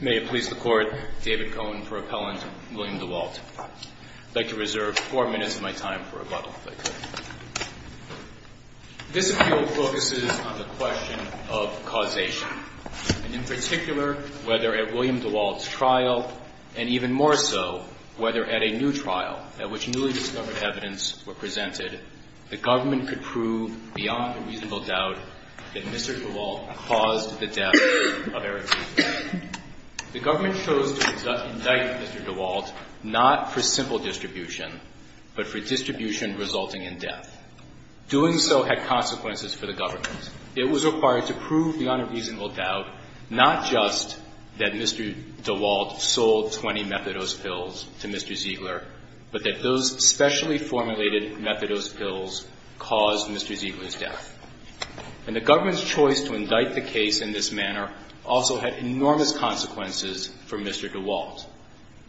May it please the Court, David Cohen for Appellant, William Dewalt. I'd like to reserve four minutes of my time for rebuttal, if I could. This appeal focuses on the question of causation, and in particular, whether at William Dewalt's trial, and even more so, whether at a new trial, at which newly discovered evidence were presented, the government could prove beyond a reasonable doubt that Mr. Dewalt caused the death of Eric Ziegler. The government chose to indict Mr. Dewalt not for simple distribution, but for distribution resulting in death. Doing so had consequences for the government. It was especially formulated methadose pills caused Mr. Ziegler's death. And the government's choice to indict the case in this manner also had enormous consequences for Mr. Dewalt.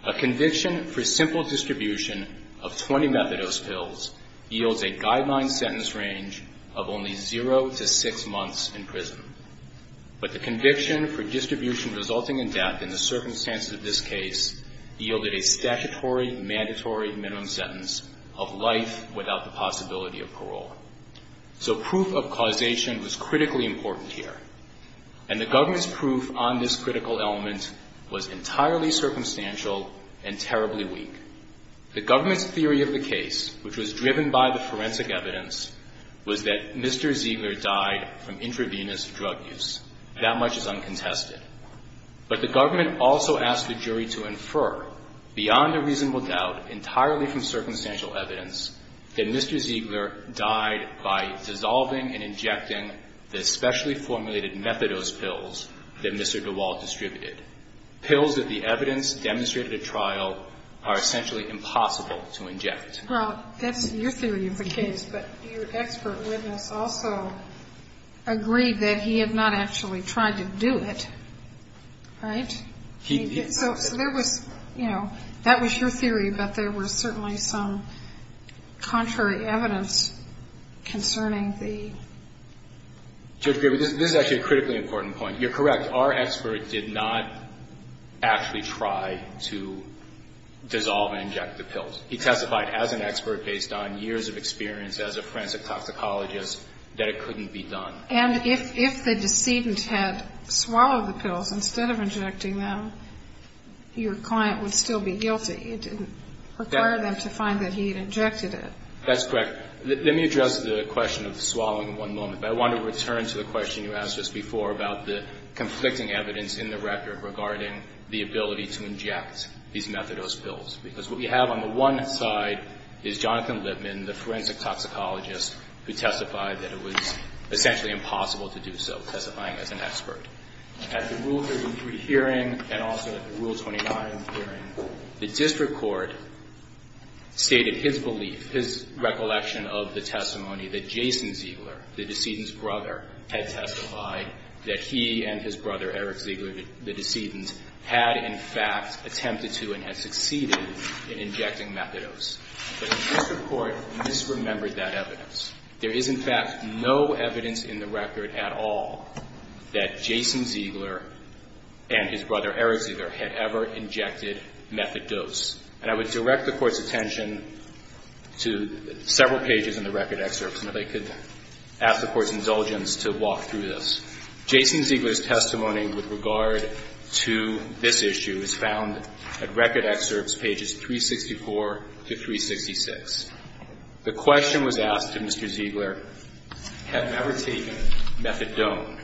A conviction for simple distribution of 20 methadose pills yields a guideline sentence range of only 0 to 6 months in prison. But the conviction for distribution resulting in death in the circumstances of this case yielded a statutory, mandatory minimum sentence of life without the possibility of parole. So proof of causation was critically important here. And the government's proof on this critical element was entirely drug use. That much is uncontested. But the government also asked the jury to infer beyond a reasonable doubt, entirely from circumstantial evidence, that Mr. Ziegler died by dissolving and injecting the specially formulated methadose pills that Mr. Dewalt distributed, pills that the evidence demonstrated at trial are the same. And the government agreed that he had not actually tried to do it. Right? So there was, you know, that was your theory, but there was certainly some contrary evidence concerning the... Judge Griebel, this is actually a critically important point. You're correct. Our expert did not actually try to dissolve and inject the pills. He testified as an expert based on years of experience as a forensic toxicologist that it couldn't be done. And if the decedent had swallowed the pills instead of injecting them, your client would still be guilty. It didn't require them to find that he had injected it. That's correct. Let me address the question of swallowing in one moment. But I want to return to the question you asked us before about the conflicting evidence in the record regarding the ability to inject these methadose pills. Because what we have on the one side is Jonathan Lipman, the forensic toxicologist, who testified that it was essentially impossible to do so, testifying as an expert. At the Rule 33 hearing and also at the Rule 29 hearing, the district court stated his belief, his recollection of the testimony that Jason Ziegler, the decedent's brother, had testified that he and his brother Eric Ziegler, the decedent, had in fact attempted to and had succeeded in injecting methadose. But the district court misremembered that evidence. There is, in fact, no evidence in the record at all that Jason Ziegler and his brother Eric Ziegler had ever injected methadose. And I would direct the Court's attention to several pages in the record excerpts, and if I could ask the Court's indulgence to walk through this. Jason Ziegler's testimony with regard to this issue is found at record excerpts, pages 364 to 366. The question was asked to Mr. Ziegler, have you ever taken methadone?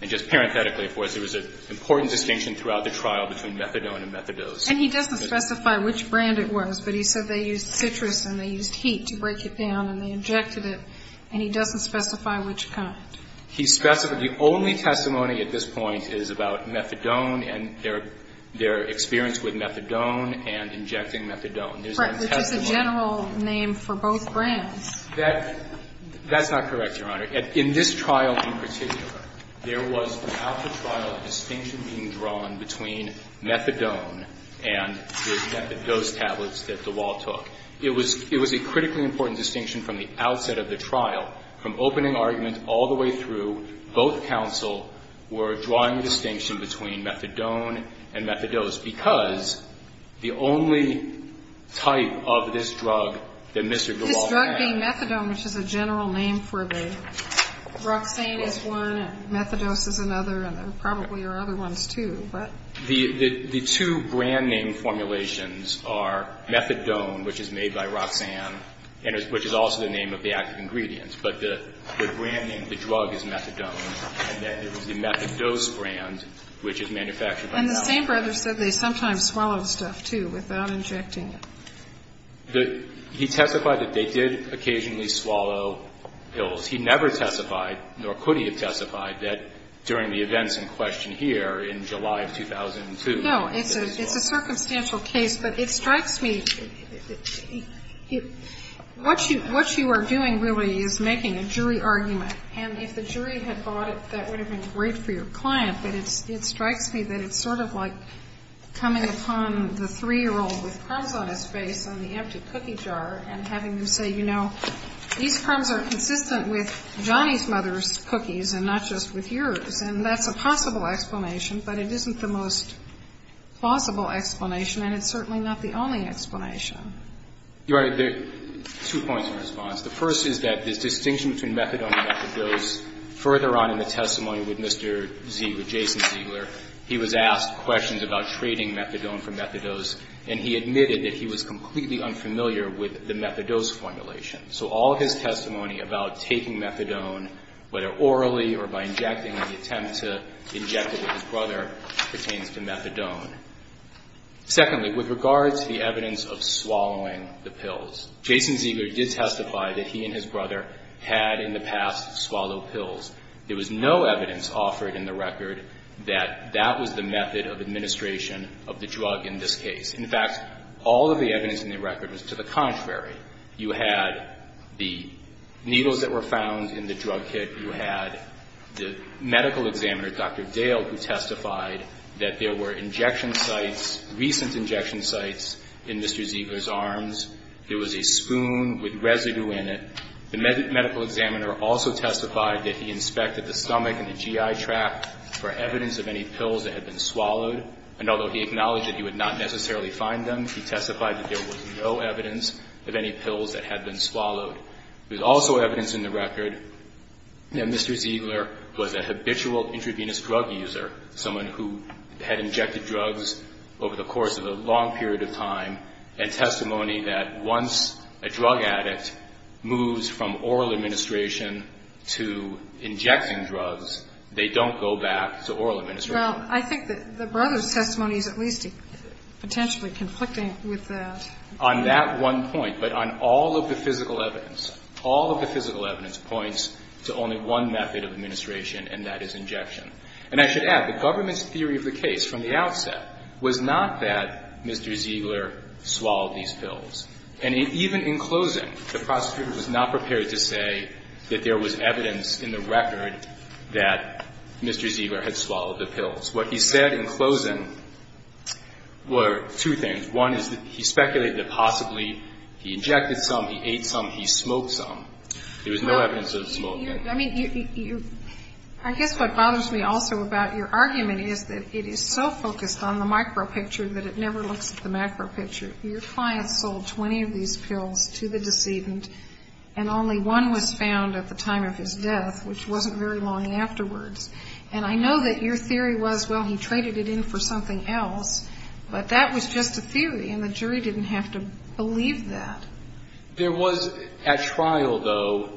And just parenthetically for us, there was an important distinction throughout the trial between methadone and methadose. And he doesn't specify which brand it was, but he said they used citrus and they used heat to break it down and they injected it, and he doesn't specify which kind. He specified the only testimony at this point is about methadone and their experience with methadone and injecting methadone. There's no testimony. Right. Which is a general name for both brands. That's not correct, Your Honor. In this trial in particular, there was throughout the trial a distinction being drawn between methadone and the dose tablets that DeWalt took. It was a critically important distinction from the outset of the trial. From opening argument all the way through, both counsel were drawing a distinction between methadone and methadose because the only type of this drug that Mr. DeWalt had. This drug named methadone, which is a general name for both. Roxane is one and methadose is another, and there probably are other ones, too, but. The two brand name formulations are methadone, which is made by Roxane, which is also the name of the active ingredient, but the brand name of the drug is methadone, and then there was the methadose brand, which is manufactured by DeWalt. And the same brother said they sometimes swallowed stuff, too, without injecting it. He testified that they did occasionally swallow pills. He never testified, nor could he have testified, that during the events in question here in July of 2002. No. It's a circumstantial case. But it strikes me, what you are doing really is making a jury argument, and if the jury had bought it, that would have been great for your client. But it strikes me that it's sort of like coming upon the 3-year-old with crumbs on his face on the empty cookie jar and having him say, you know, these crumbs are consistent with Johnny's mother's cookies and not just with yours. And that's a possible explanation, but it isn't the most plausible explanation, and it's certainly not the only explanation. Your Honor, there are two points of response. The first is that this distinction between methadone and methadose, further on in the testimony with Mr. Ziegler, Jason Ziegler, he was asked questions about trading methadone for methadose, and he admitted that he was completely unfamiliar with the methadose formulation. So all of his testimony about taking methadone, whether orally or by injecting in the attempt to inject it with his brother, pertains to methadone. Secondly, with regard to the evidence of swallowing the pills, Jason Ziegler did testify that he and his brother had in the past swallowed pills. There was no evidence offered in the record that that was the method of administration of the drug in this case. In fact, all of the evidence in the record was to the contrary. You had the needles that were found in the drug kit. You had the medical examiner, Dr. Dale, who testified that there were injection sites, recent injection sites, in Mr. Ziegler's arms. There was a spoon with residue in it. The medical examiner also testified that he inspected the stomach and the GI tract for evidence of any pills that had been swallowed, and although he acknowledged that he would not necessarily find them, he testified that there was no evidence of any pills that had been swallowed. There's also evidence in the record that Mr. Ziegler was a habitual intravenous drug user, someone who had injected drugs over the course of a long period of time, and testimony that once a drug addict moves from oral administration to injecting drugs, they don't go back to oral administration. Well, I think that the brother's testimony is at least potentially conflicting with that. On that one point, but on all of the physical evidence, all of the physical evidence points to only one method of administration, and that is injection. And I should add, the government's theory of the case from the outset was not that Mr. Ziegler swallowed these pills. And even in closing, the prosecutor was not prepared to say that there was evidence in the record that Mr. Ziegler had swallowed the pills. What he said in closing were two things. One is that he speculated that possibly he injected some, he ate some, he smoked some. There was no evidence of smoking. I mean, I guess what bothers me also about your argument is that it is so focused on the micro picture that it never looks at the macro picture. Your client sold 20 of these pills to the decedent, and only one was found at the time of his death, which wasn't very long afterwards. And I know that your theory was, well, he traded it in for something else, but that was just a theory, and the jury didn't have to believe that. There was, at trial, though,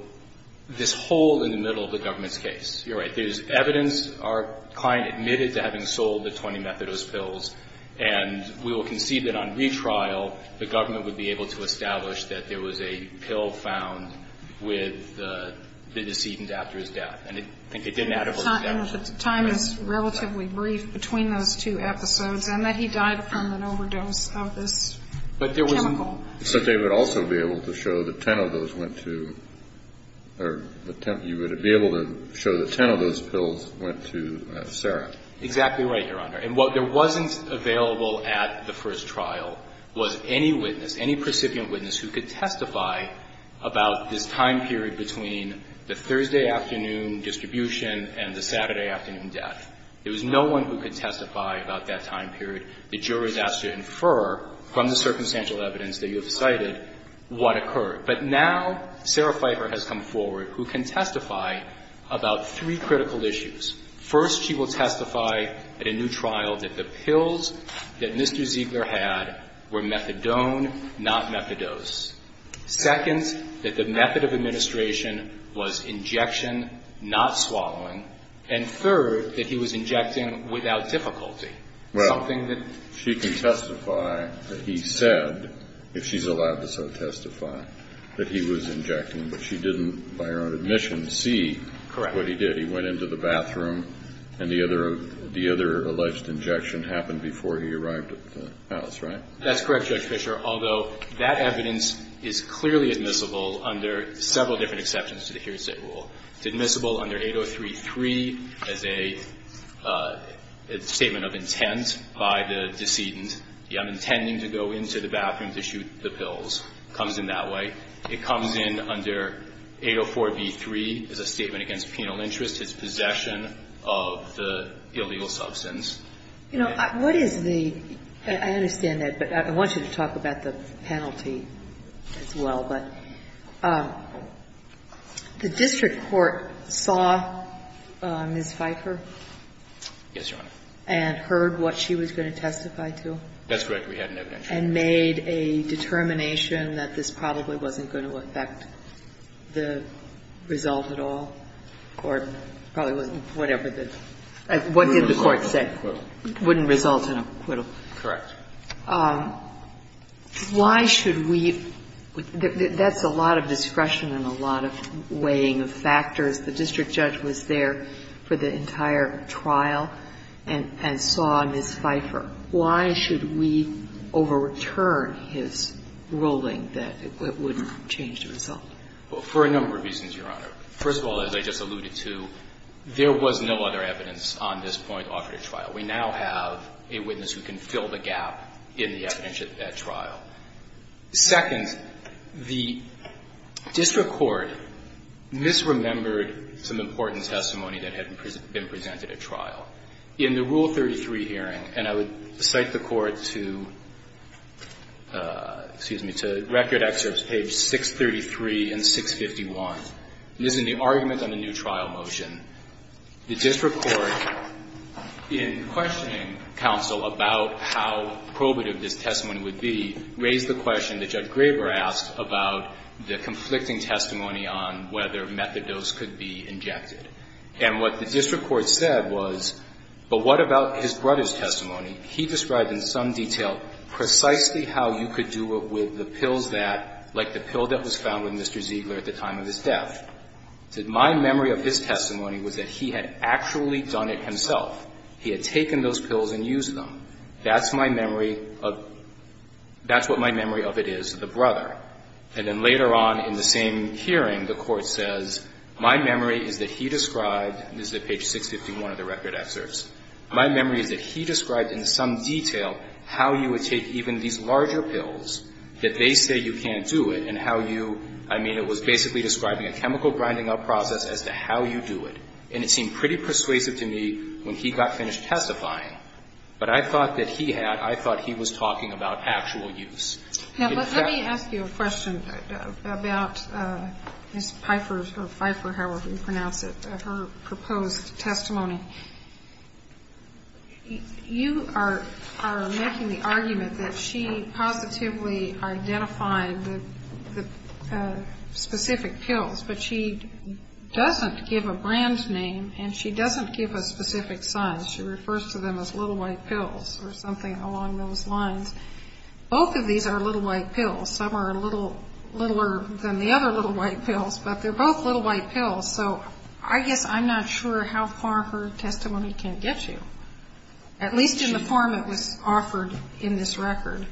this hole in the middle of the government's case. You're right. But there's evidence. Our client admitted to having sold the 20 Methadose pills, and we will concede that on retrial, the government would be able to establish that there was a pill found with the decedent after his death. And I think it didn't add up to that. Time is relatively brief between those two episodes, and that he died from an overdose of this chemical. So they would also be able to show that 10 of those went to or you would be able to show that 10 of those pills went to Sarah. Exactly right, Your Honor. And what wasn't available at the first trial was any witness, any precipient witness, who could testify about this time period between the Thursday afternoon distribution and the Saturday afternoon death. There was no one who could testify about that time period. The jury is asked to infer from the circumstantial evidence that you have cited what occurred. But now Sarah Pfeiffer has come forward who can testify about three critical issues. First, she will testify at a new trial that the pills that Mr. Ziegler had were Methadone, not Methadose. Second, that the method of administration was injection, not swallowing. And third, that he was injecting without difficulty. Well, she can testify that he said, if she's allowed to so testify, that he was injecting. But she didn't, by her own admission, see what he did. Correct. He went into the bathroom, and the other alleged injection happened before he arrived at the house, right? That's correct, Judge Fischer, although that evidence is clearly admissible under several different exceptions to the hearsay rule. It's admissible under 803.3 as a statement of intent by the decedent. I'm intending to go into the bathroom to shoot the pills. It comes in that way. It comes in under 804.b.3 as a statement against penal interest, his possession of the illegal substance. You know, what is the – I understand that, but I want you to talk about the penalty as well. But the district court saw Ms. Pfeiffer? Yes, Your Honor. And heard what she was going to testify to? That's correct. We had an evidentiary. And made a determination that this probably wasn't going to affect the result at all, or probably wasn't whatever the – what did the court say? Wouldn't result in acquittal. Correct. Why should we – that's a lot of discretion and a lot of weighing of factors. The district judge was there for the entire trial and saw Ms. Pfeiffer. Why should we over-return his ruling that it would change the result? For a number of reasons, Your Honor. First of all, as I just alluded to, there was no other evidence on this point after the trial. We now have a witness who can fill the gap in the evidence at that trial. Second, the district court misremembered some important testimony that had been presented at trial. In the Rule 33 hearing, and I would cite the court to – excuse me – to Record Excerpts, page 633 and 651, this is the argument on the new trial motion. The district court, in questioning counsel about how probative this testimony would be, raised the question that Judge Graber asked about the conflicting testimony on whether methadose could be injected. And what the district court said was, but what about his brother's testimony? He described in some detail precisely how you could do it with the pills that – like the pill that was found with Mr. Ziegler at the time of his death. He said, my memory of his testimony was that he had actually done it himself. He had taken those pills and used them. That's my memory of – that's what my memory of it is, the brother. And then later on in the same hearing, the court says, my memory is that he described – this is at page 651 of the Record Excerpts – my memory is that he described in some detail how you would take even these larger pills, that they say you can't do it, and how you – I mean, it was basically describing a chemical grinding up process as to how you do it. And it seemed pretty persuasive to me when he got finished testifying. But I thought that he had – I thought he was talking about actual use. Now, let me ask you a question about Ms. Pfeiffer or Pfeiffer, however you pronounce it, her proposed testimony. You are making the argument that she positively identified the specific pills, but she doesn't give a brand name and she doesn't give a specific size. She refers to them as little white pills or something along those lines. Both of these are little white pills. Some are a little – littler than the other little white pills, but they're both little white pills. So I guess I'm not sure how far her testimony can get you, at least in the form it was offered in this record.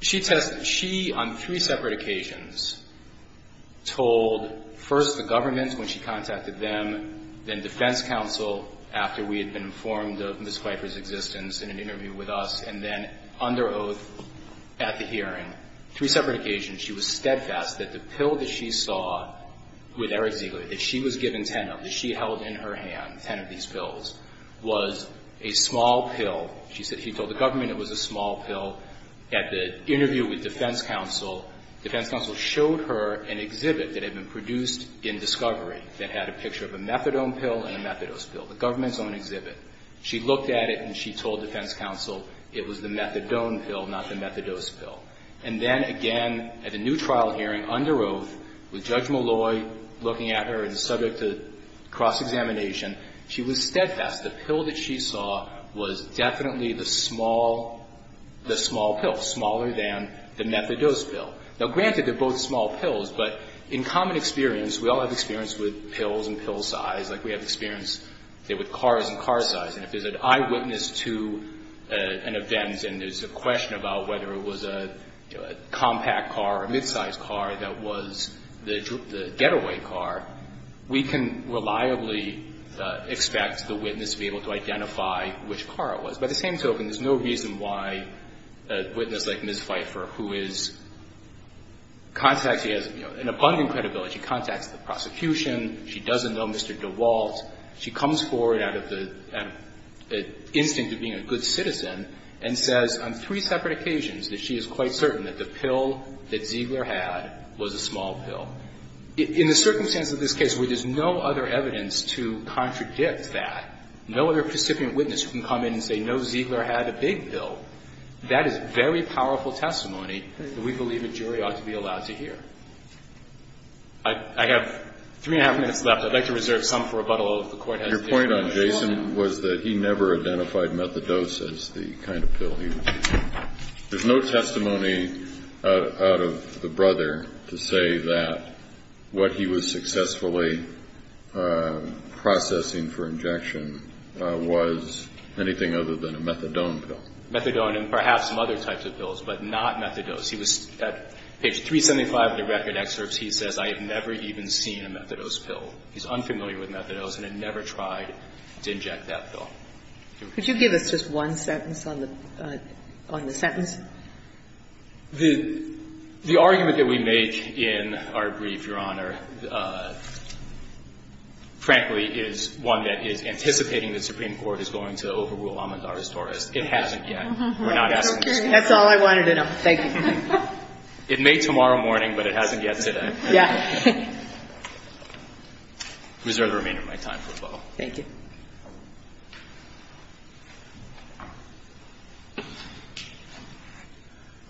She tested – she, on three separate occasions, told first the government when she contacted them, then defense counsel after we had been informed of Ms. Pfeiffer's existence in an interview with us, and then under oath at the hearing. On three separate occasions, she was steadfast that the pill that she saw with Eric Ziegler, that she was given ten of, that she held in her hand, ten of these pills, was a small pill. She said he told the government it was a small pill. At the interview with defense counsel, defense counsel showed her an exhibit that had been produced in Discovery that had a picture of a methadone pill and a methadose pill, the government's own exhibit. She looked at it and she told defense counsel it was the methadone pill, not the methadose pill. And then, again, at the new trial hearing, under oath, with Judge Malloy looking at her and subject to cross-examination, she was steadfast. The pill that she saw was definitely the small, the small pill, smaller than the methadose pill. Now, granted, they're both small pills, but in common experience, we all have experience with pills and pill size, like we have experience with cars and car size. And if there's an eyewitness to an event and there's a question about whether it was a compact car or a midsize car that was the getaway car, we can reliably expect the witness to be able to identify which car it was. By the same token, there's no reason why a witness like Ms. Pfeiffer, who is contacting, has an abundant credibility. She contacts the prosecution. She doesn't know Mr. DeWalt. She comes forward out of the instinct of being a good citizen and says on three separate occasions that she is quite certain that the pill that Ziegler had was a small pill. In the circumstance of this case where there's no other evidence to contradict that, no other precipient witness can come in and say, no, Ziegler had a big pill, that is very powerful testimony that we believe a jury ought to be allowed to hear. I have three and a half minutes left. I'd like to reserve some for rebuttal if the Court has additional questions. The point on Jason was that he never identified methadose as the kind of pill he was using. There's no testimony out of the brother to say that what he was successfully processing for injection was anything other than a methadone pill. Methadone and perhaps some other types of pills, but not methadose. He was at page 375 of the record excerpts, he says, I have never even seen a methadose pill. He's unfamiliar with methadose and had never tried to inject that pill. Could you give us just one sentence on the sentence? The argument that we make in our brief, Your Honor, frankly, is one that is anticipating the Supreme Court is going to overrule Amandar's Taurus. It hasn't yet. We're not asking the Supreme Court. That's all I wanted to know. Thank you. It may tomorrow morning, but it hasn't yet today. Yeah. I reserve the remainder of my time for the follow-up. Thank you.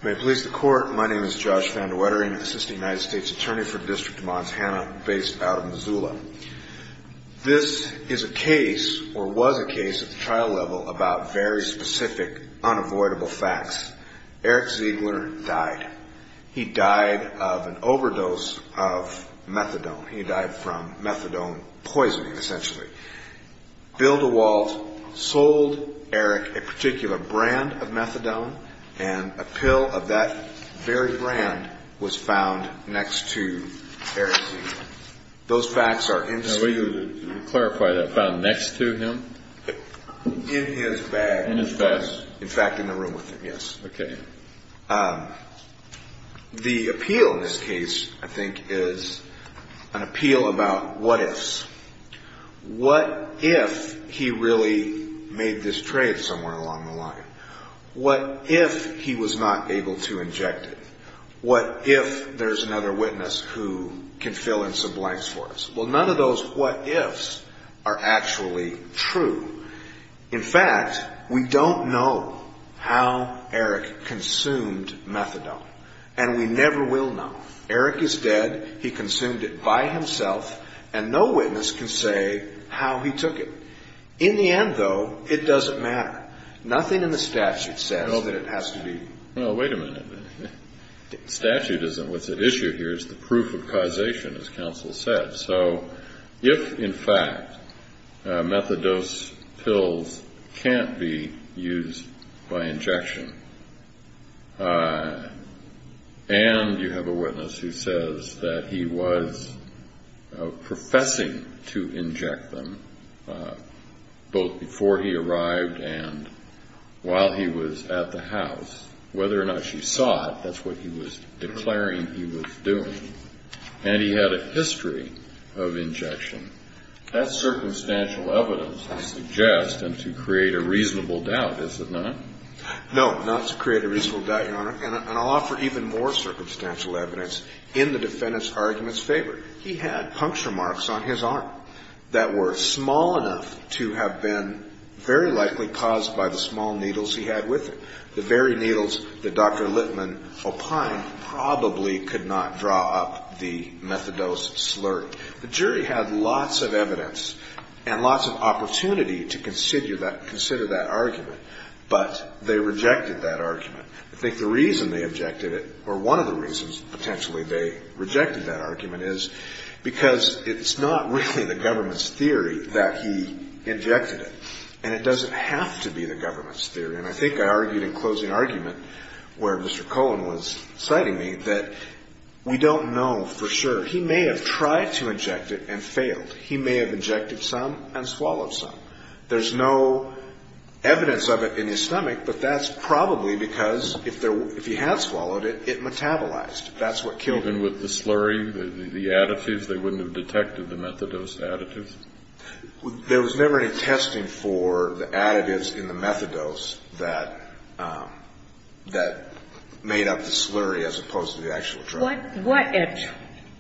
May it please the Court, my name is Josh Van de Wettering, Assistant United States Attorney for the District of Montana based out of Missoula. This is a case or was a case at the trial level about very specific, unavoidable facts. Eric Ziegler died. He died of an overdose of methadone. He died from methadone poisoning, essentially. Bill DeWalt sold Eric a particular brand of methadone, and a pill of that very brand was found next to Eric Ziegler. Those facts are in his... Can you clarify that, found next to him? In his bag. In his bag. In fact, in the room with him, yes. Okay. The appeal in this case, I think, is an appeal about what ifs. What if he really made this trade somewhere along the line? What if he was not able to inject it? What if there's another witness who can fill in some blanks for us? Well, none of those what ifs are actually true. In fact, we don't know how Eric consumed methadone, and we never will know. Eric is dead. He consumed it by himself, and no witness can say how he took it. In the end, though, it doesn't matter. Nothing in the statute says that it has to be. Well, wait a minute. The statute isn't what's at issue here. It's the proof of causation, as counsel said. So if, in fact, methadose pills can't be used by injection, and you have a witness who says that he was professing to inject them, both before he arrived and while he was at the house, whether or not she saw it, that's what he was declaring he was doing, and he had a history of injection. That's circumstantial evidence to suggest and to create a reasonable doubt, is it not? No, not to create a reasonable doubt, Your Honor. And I'll offer even more circumstantial evidence in the defendant's argument's favor. He had puncture marks on his arm that were small enough to have been very likely caused by the small needles he had with him. The very needles that Dr. Littman opined probably could not draw up the methadose slurry. The jury had lots of evidence and lots of opportunity to consider that argument, but they rejected that argument. I think the reason they objected it, or one of the reasons potentially they rejected that argument, is because it's not really the government's theory that he injected it, and I think I argued in closing argument, where Mr. Cohen was citing me, that we don't know for sure. He may have tried to inject it and failed. He may have injected some and swallowed some. There's no evidence of it in his stomach, but that's probably because if he had swallowed it, it metabolized. That's what killed him. Even with the slurry, the additives, they wouldn't have detected the methadose additives? There was never any testing for the additives in the methadose that made up the slurry as opposed to the actual drug. What at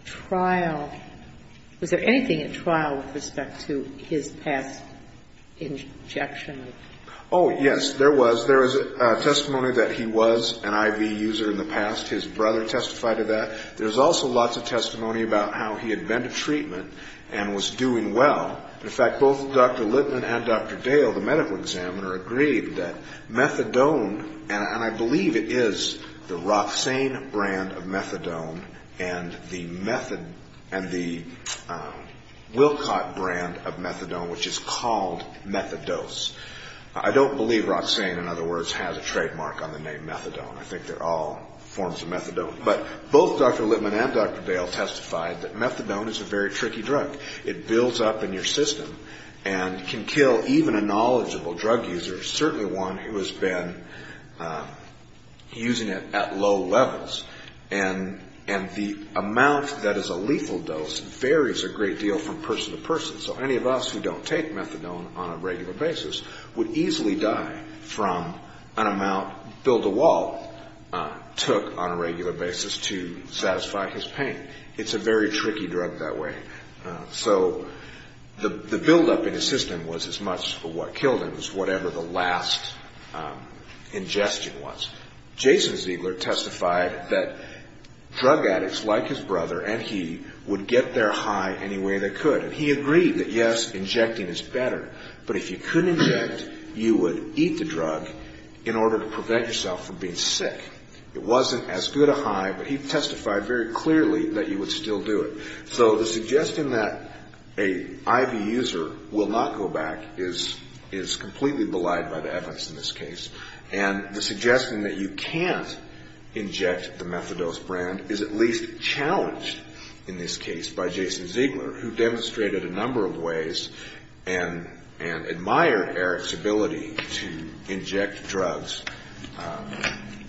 trial, was there anything at trial with respect to his past injection? Oh, yes, there was. There was testimony that he was an IV user in the past. His brother testified to that. There was also lots of testimony about how he had been to treatment and was doing well. In fact, both Dr. Littman and Dr. Dale, the medical examiner, agreed that methadone, and I believe it is the Roxane brand of methadone and the Wilcott brand of methadone, which is called methadose. I don't believe Roxane, in other words, has a trademark on the name methadone. I think they're all forms of methadone. But both Dr. Littman and Dr. Dale testified that methadone is a very tricky drug. It builds up in your system and can kill even a knowledgeable drug user, certainly one who has been using it at low levels. And the amount that is a lethal dose varies a great deal from person to person. So any of us who don't take methadone on a regular basis would easily die from an amount that Bill DeWalt took on a regular basis to satisfy his pain. It's a very tricky drug that way. So the buildup in his system was as much of what killed him as whatever the last ingestion was. Jason Ziegler testified that drug addicts like his brother and he would get their high any way they could. And he agreed that, yes, injecting is better, but if you couldn't inject, you would eat the drug in order to prevent yourself from being sick. It wasn't as good a high, but he testified very clearly that you would still do it. So the suggestion that an IV user will not go back is completely belied by the evidence in this case. And the suggestion that you can't inject the methadose brand is at least challenged in this case by Jason Ziegler, who demonstrated a number of ways and admired Eric's ability to inject drugs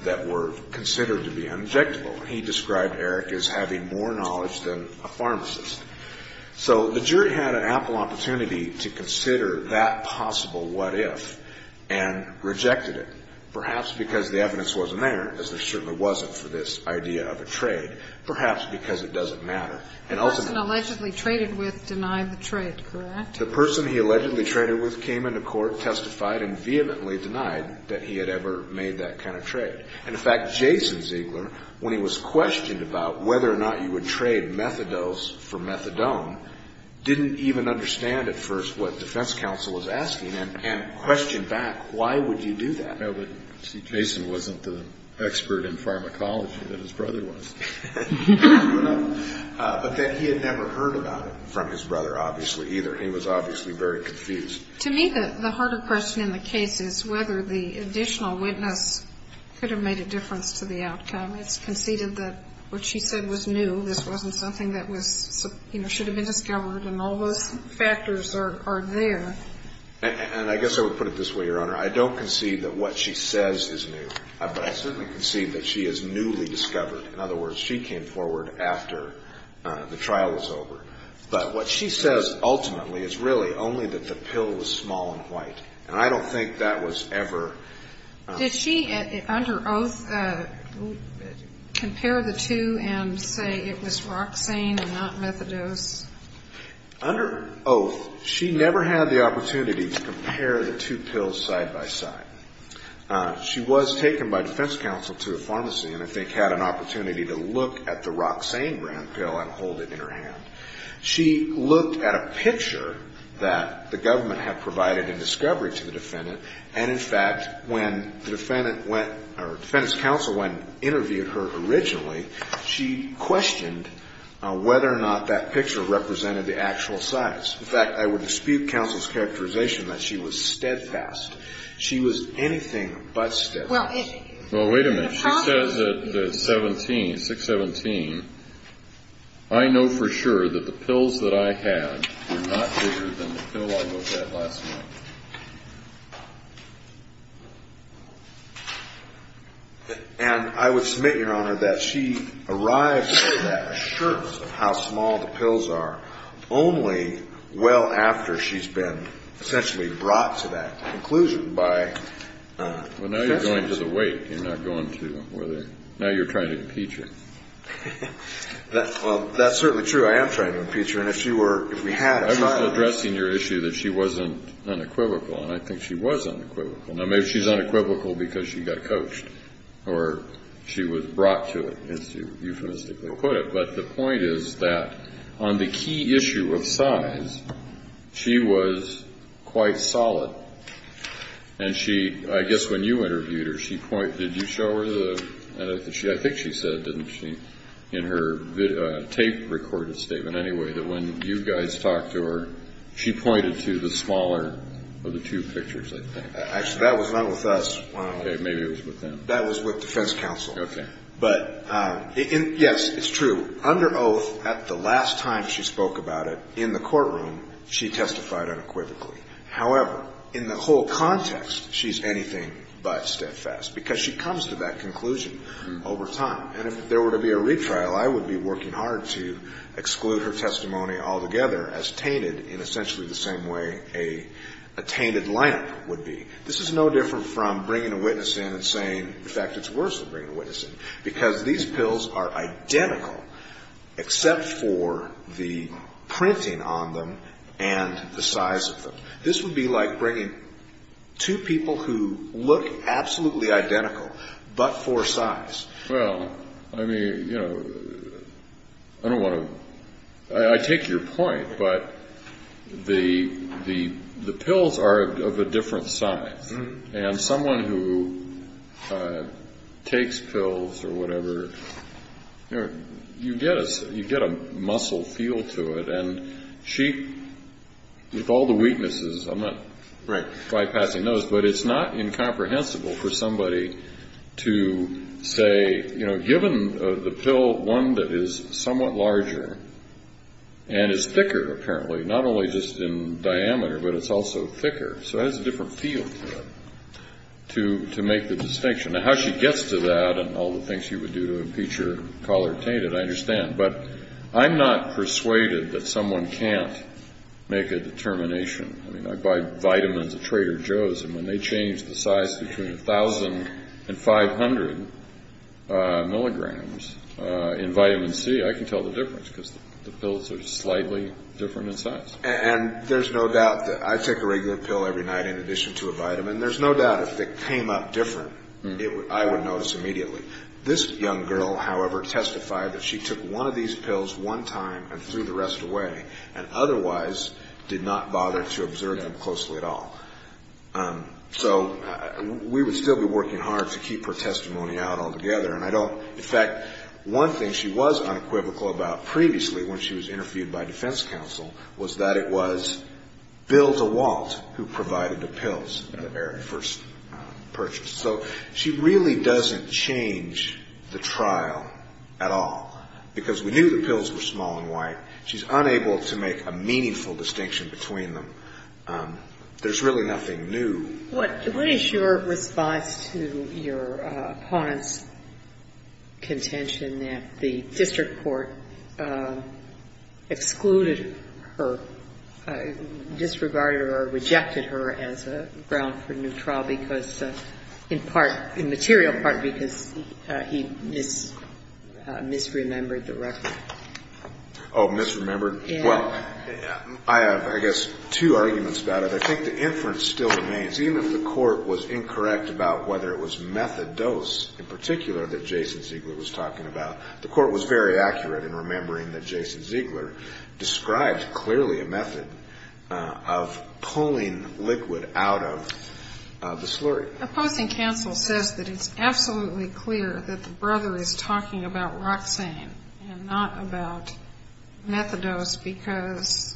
that were considered to be uninjectable. He described Eric as having more knowledge than a pharmacist. So the jury had an ample opportunity to consider that possible what if and rejected it, perhaps because the evidence wasn't there, as there certainly wasn't for this idea of a trade, perhaps because it doesn't matter. The person allegedly traded with denied the trade, correct? The person he allegedly traded with came into court, testified, and vehemently denied that he had ever made that kind of trade. And, in fact, Jason Ziegler, when he was questioned about whether or not you would trade methadose for methadone, didn't even understand at first what defense counsel was asking and questioned back, why would you do that? I know that, see, Jason wasn't the expert in pharmacology that his brother was. But that he had never heard about it from his brother, obviously, either. He was obviously very confused. To me, the harder question in the case is whether the additional witness could have made a difference to the outcome. It's conceded that what she said was new. This wasn't something that was, you know, should have been discovered. And all those factors are there. And I guess I would put it this way, Your Honor. I don't concede that what she says is new. But I certainly concede that she is newly discovered. In other words, she came forward after the trial was over. But what she says, ultimately, is really only that the pill was small and white. And I don't think that was ever ---- Did she, under oath, compare the two and say it was Roxane and not methadose? Under oath, she never had the opportunity to compare the two pills side by side. She was taken by defense counsel to a pharmacy and, I think, had an opportunity to look at the Roxane grand pill and hold it in her hand. She looked at a picture that the government had provided in discovery to the defendant. And, in fact, when the defendant went or the defendant's counsel went and interviewed her originally, she questioned whether or not that picture represented the actual size. In fact, I would dispute counsel's characterization that she was steadfast. She was anything but steadfast. Well, wait a minute. She says at 617, I know for sure that the pills that I had were not bigger than the pill I looked at last night. And I would submit, Your Honor, that she arrived at that assurance of how small the pills are only well after she's been essentially brought to that conclusion by ---- Well, now you're going to the weight. You're not going to whether ---- Now you're trying to impeach her. Well, that's certainly true. I am trying to impeach her. And if she were ---- I was addressing your issue that she wasn't unequivocal. And I think she was unequivocal. Now, maybe she's unequivocal because she got coached or she was brought to it, as you euphemistically put it. But the point is that on the key issue of size, she was quite solid. And she, I guess when you interviewed her, she pointed, did you show her the, I think she said, didn't she, in her tape-recorded statement anyway, that when you guys talked to her, she pointed to the smaller of the two pictures, I think. Actually, that was not with us. Okay. Maybe it was with them. That was with defense counsel. Okay. But, yes, it's true. Under oath, at the last time she spoke about it in the courtroom, she testified unequivocally. However, in the whole context, she's anything but steadfast because she comes to that conclusion over time. And if there were to be a retrial, I would be working hard to exclude her testimony altogether as tainted in essentially the same way a tainted lineup would be. This is no different from bringing a witness in and saying, in fact, it's worse than bringing a witness in, because these pills are identical except for the printing on them and the size of them. This would be like bringing two people who look absolutely identical but for size. Well, I mean, you know, I don't want to – I take your point, but the pills are of a different size. And someone who takes pills or whatever, you get a muscle feel to it. And she, with all the weaknesses, I'm not bypassing those, but it's not incomprehensible for somebody to say, you know, given the pill, one that is somewhat larger and is thicker, apparently, not only just in diameter, but it's also thicker. So it has a different feel to it, to make the distinction. Now, how she gets to that and all the things she would do to impeach her, call her tainted, I understand. But I'm not persuaded that someone can't make a determination. I mean, I buy vitamins at Trader Joe's, and when they change the size between 1,000 and 500 milligrams in vitamin C, I can tell the difference because the pills are slightly different in size. And there's no doubt that I take a regular pill every night in addition to a vitamin. There's no doubt if it came up different, I would notice immediately. This young girl, however, testified that she took one of these pills one time and threw the rest away and otherwise did not bother to observe them closely at all. So we would still be working hard to keep her testimony out altogether, and I don't. In fact, one thing she was unequivocal about previously when she was interviewed by defense counsel was that it was Bill DeWalt who provided the pills that Eric first purchased. So she really doesn't change the trial at all because we knew the pills were small and white. She's unable to make a meaningful distinction between them. There's really nothing new. What is your response to your opponent's contention that the district court excluded her, disregarded her, or rejected her as a ground for new trial because in part, in material part, because he misremembered the record? Oh, misremembered? Yeah. Well, I have, I guess, two arguments about it. I think the inference still remains. Even if the court was incorrect about whether it was methadose in particular that Jason Ziegler was talking about, the court was very accurate in remembering that Jason Ziegler described clearly a method of pulling liquid out of the slurry. Opposing counsel says that it's absolutely clear that the brother is talking about Roxane and not about methadose because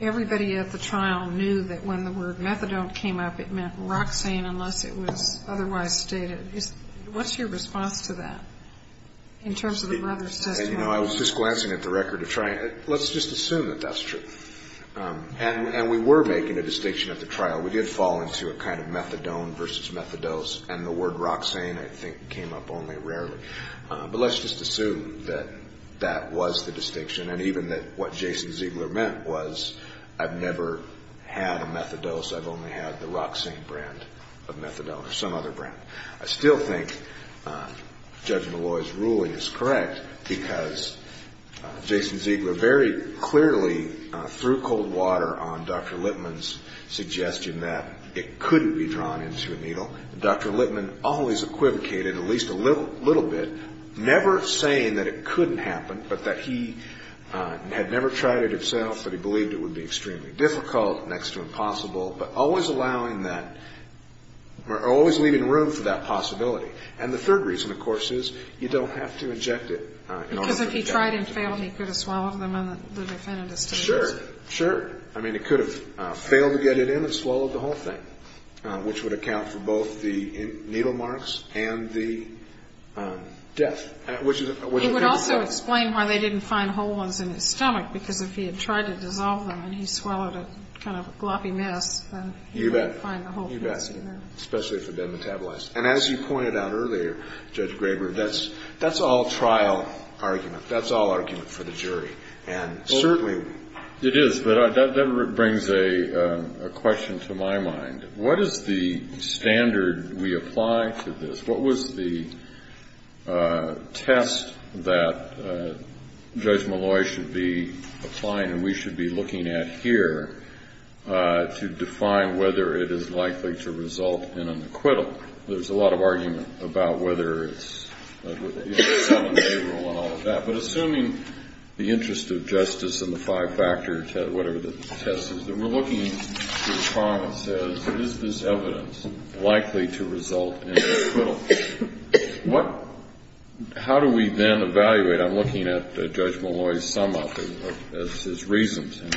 everybody at the trial knew that when the word methadone came up, it meant Roxane unless it was otherwise stated. What's your response to that in terms of the brother's testimony? You know, I was just glancing at the record to try and let's just assume that that's true. And we were making a distinction at the trial. You know, we did fall into a kind of methadone versus methadose, and the word Roxane, I think, came up only rarely. But let's just assume that that was the distinction and even that what Jason Ziegler meant was I've never had a methadose. I've only had the Roxane brand of methadone or some other brand. I still think Judge Malloy's ruling is correct because Jason Ziegler very clearly threw cold water on Dr. Lippman's suggestion that it couldn't be drawn into a needle. Dr. Lippman always equivocated at least a little bit, never saying that it couldn't happen, but that he had never tried it himself, that he believed it would be extremely difficult next to impossible, but always allowing that or always leaving room for that possibility. And the third reason, of course, is you don't have to inject it in order to get it in. Because if he tried and failed, he could have swallowed them and the defendant is still using them. Sure, sure. I mean, he could have failed to get it in and swallowed the whole thing, which would account for both the needle marks and the death, which is what you think is possible. I can't explain why they didn't find whole ones in his stomach, because if he had tried to dissolve them and he swallowed a kind of a gloppy mess, then he wouldn't find the whole things in there. You bet. You bet. Especially if it had been metabolized. And as you pointed out earlier, Judge Graber, that's all trial argument. That's all argument for the jury. And certainly... It is. But that brings a question to my mind. What is the standard we apply to this? What was the test that Judge Molloy should be applying and we should be looking at here to define whether it is likely to result in an acquittal? There's a lot of argument about whether it's a seven-day rule and all of that. But assuming the interest of justice and the five factors, whatever the test is, that we're looking at the promise as, is this evidence likely to result in an acquittal? How do we then evaluate? I'm looking at Judge Molloy's sum-up of his reasons. And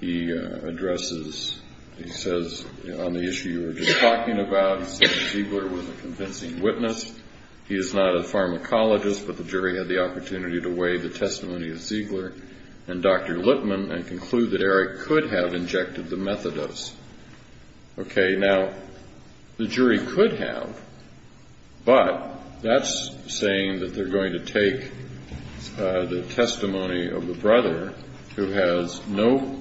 he addresses, he says, on the issue you were just talking about, he said Ziegler was a convincing witness. He is not a pharmacologist, but the jury had the opportunity to weigh the testimony of Ziegler and Dr. Lippman and conclude that Eric could have injected the methadose. Okay, now, the jury could have, but that's saying that they're going to take the testimony of the brother who has no...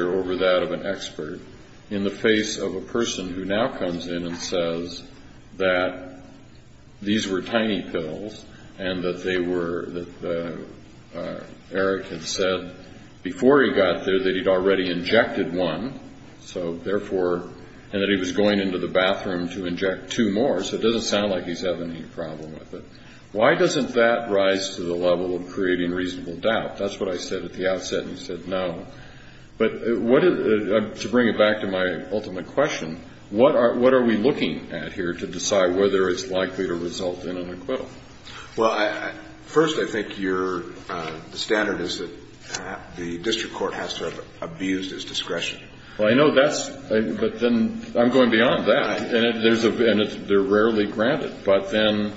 over that of an expert in the face of a person who now comes in and says that these were tiny pills and that they were, that Eric had said before he got there that he'd already injected one, so therefore, and that he was going into the bathroom to inject two more, so it doesn't sound like he's having any problem with it. Why doesn't that rise to the level of creating reasonable doubt? That's what I said at the outset, and you said no. But what is, to bring it back to my ultimate question, what are we looking at here to decide whether it's likely to result in an acquittal? Well, first, I think your standard is that the district court has to have abused its discretion. Well, I know that's, but then I'm going beyond that. And they're rarely granted, but then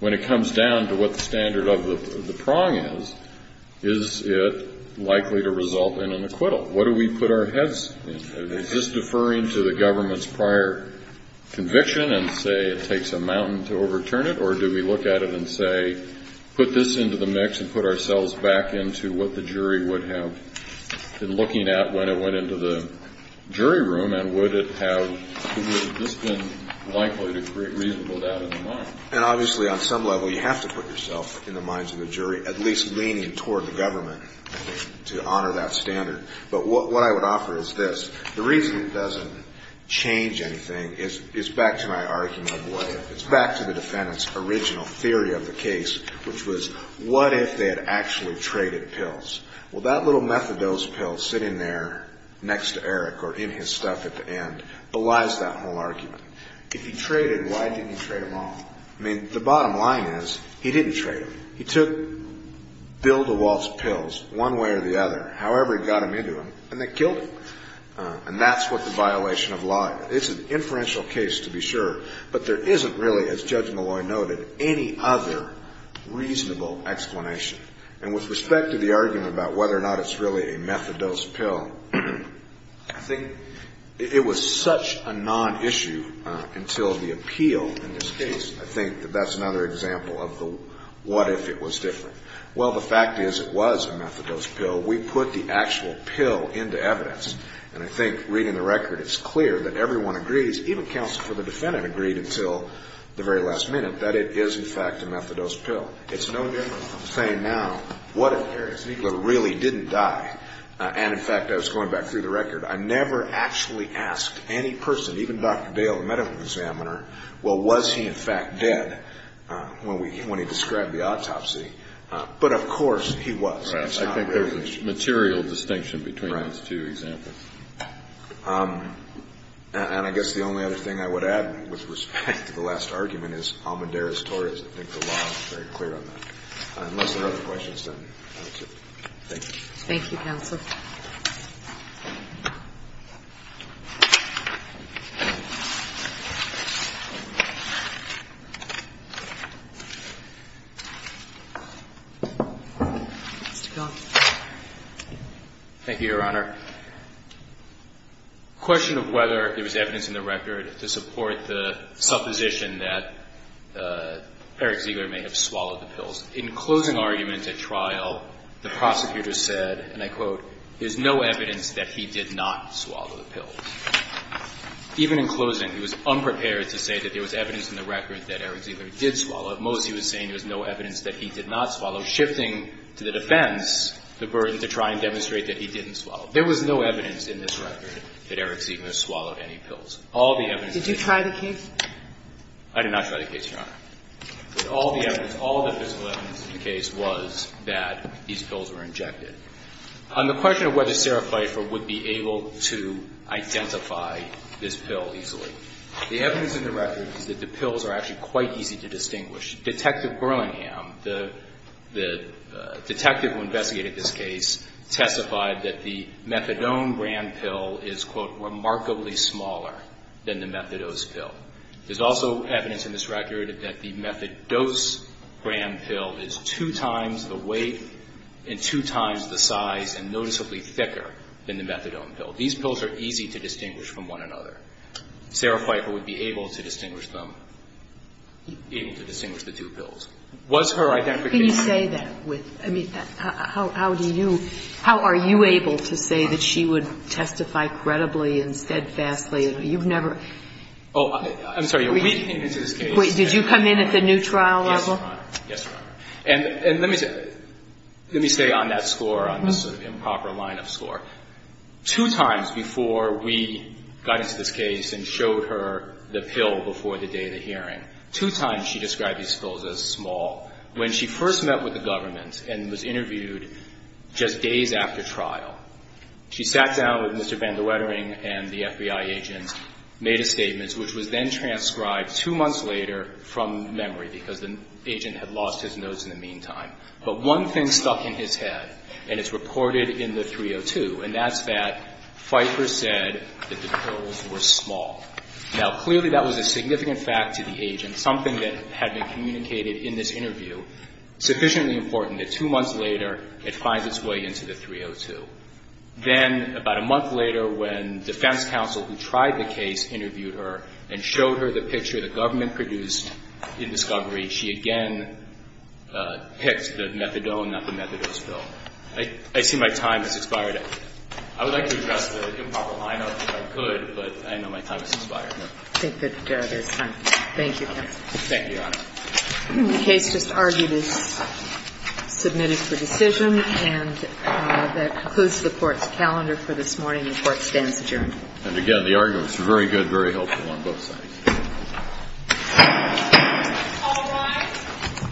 when it comes down to what the standard of the prong is, is it likely to result in an acquittal? What do we put our heads in? Is this deferring to the government's prior conviction and say it takes a mountain to overturn it, or do we look at it and say put this into the mix and put ourselves back into what the jury would have been looking at when it went into the jury room, and would it have just been likely to create reasonable doubt in the mind? And obviously on some level you have to put yourself in the minds of the jury, at least leaning toward the government, I think, to honor that standard. But what I would offer is this. The reason it doesn't change anything is back to my argument of what if. It's back to the defendant's original theory of the case, which was what if they had actually traded pills. Well, that little methadose pill sitting there next to Eric or in his stuff at the end belies that whole argument. If he traded, why didn't he trade them all? I mean, the bottom line is he didn't trade them. He took Bill DeWalt's pills one way or the other, however he got them into him, and they killed him. And that's what the violation of law is. It's an inferential case to be sure, but there isn't really, as Judge Malloy noted, any other reasonable explanation. And with respect to the argument about whether or not it's really a methadose pill, I think it was such a non-issue until the appeal in this case. I think that that's another example of the what if it was different. Well, the fact is it was a methadose pill. We put the actual pill into evidence, and I think reading the record it's clear that everyone agrees, even counsel for the defendant agreed until the very last minute, that it is in fact a methadose pill. It's no different from saying now, what if Darius Niegler really didn't die? And, in fact, I was going back through the record. I never actually asked any person, even Dr. Dale, the medical examiner, well, was he in fact dead when he described the autopsy. But, of course, he was. I think there's a material distinction between those two examples. And I guess the only other thing I would add with respect to the last argument is Almendarez-Torres. I think the law is very clear on that. Unless there are other questions, then that's it. Thank you. Thank you, counsel. Mr. Gold. Thank you, Your Honor. The question of whether there was evidence in the record to support the supposition that Eric Ziegler may have swallowed the pills. In closing arguments at trial, the prosecutor said, and I quote, there's no evidence that he did not swallow the pills. Even in closing, he was unprepared to say that there was evidence in the record that Eric Ziegler did swallow. At most, he was saying there was no evidence that he did not swallow, shifting to the defense the burden to try and demonstrate that he didn't swallow. There was no evidence in this record that Eric Ziegler swallowed any pills. All the evidence in the case. Did you try the case? I did not try the case, Your Honor. But all the evidence, all the physical evidence in the case was that these pills were injected. On the question of whether Sarah Pfeiffer would be able to identify this pill easily, the evidence in the record is that the pills are actually quite easy to distinguish. Detective Burlingham, the detective who investigated this case, testified that the methadone brand pill is, quote, remarkably smaller than the methadose pill. There's also evidence in this record that the methadose brand pill is two times the weight and two times the size and noticeably thicker than the methadone pill. These pills are easy to distinguish from one another. Sarah Pfeiffer would be able to distinguish them, able to distinguish the two pills. Was her identification... Can you say that? I mean, how do you – how are you able to say that she would testify credibly and steadfastly? You've never... Oh, I'm sorry. We came into this case... Wait. Did you come in at the new trial level? Yes, Your Honor. Yes, Your Honor. And let me say on that score, on this sort of improper line of score, two times before we got into this case and showed her the pill before the day of the hearing, two times she described these pills as small. When she first met with the government and was interviewed just days after trial, she sat down with Mr. Van der Wettering and the FBI agent, made a statement, which was then transcribed two months later from memory, because the agent had lost his notes in the meantime. But one thing stuck in his head, and it's reported in the 302, and that's that Pfeiffer said that the pills were small. Now, clearly that was a significant fact to the agent, something that had been communicated in this interview, sufficiently important that two months later it finds its way into the 302. Then about a month later, when defense counsel who tried the case interviewed her and showed her the picture the government produced in discovery, she again picked the methadone, not the methadone spill. I see my time has expired. I would like to address the improper lineup if I could, but I know my time has expired. I think that there's time. Thank you, counsel. Thank you, Your Honor. The case just argued is submitted for decision, and that concludes the Court's calendar for this morning. The Court stands adjourned. And again, the arguments were very good, very helpful on both sides. All rise.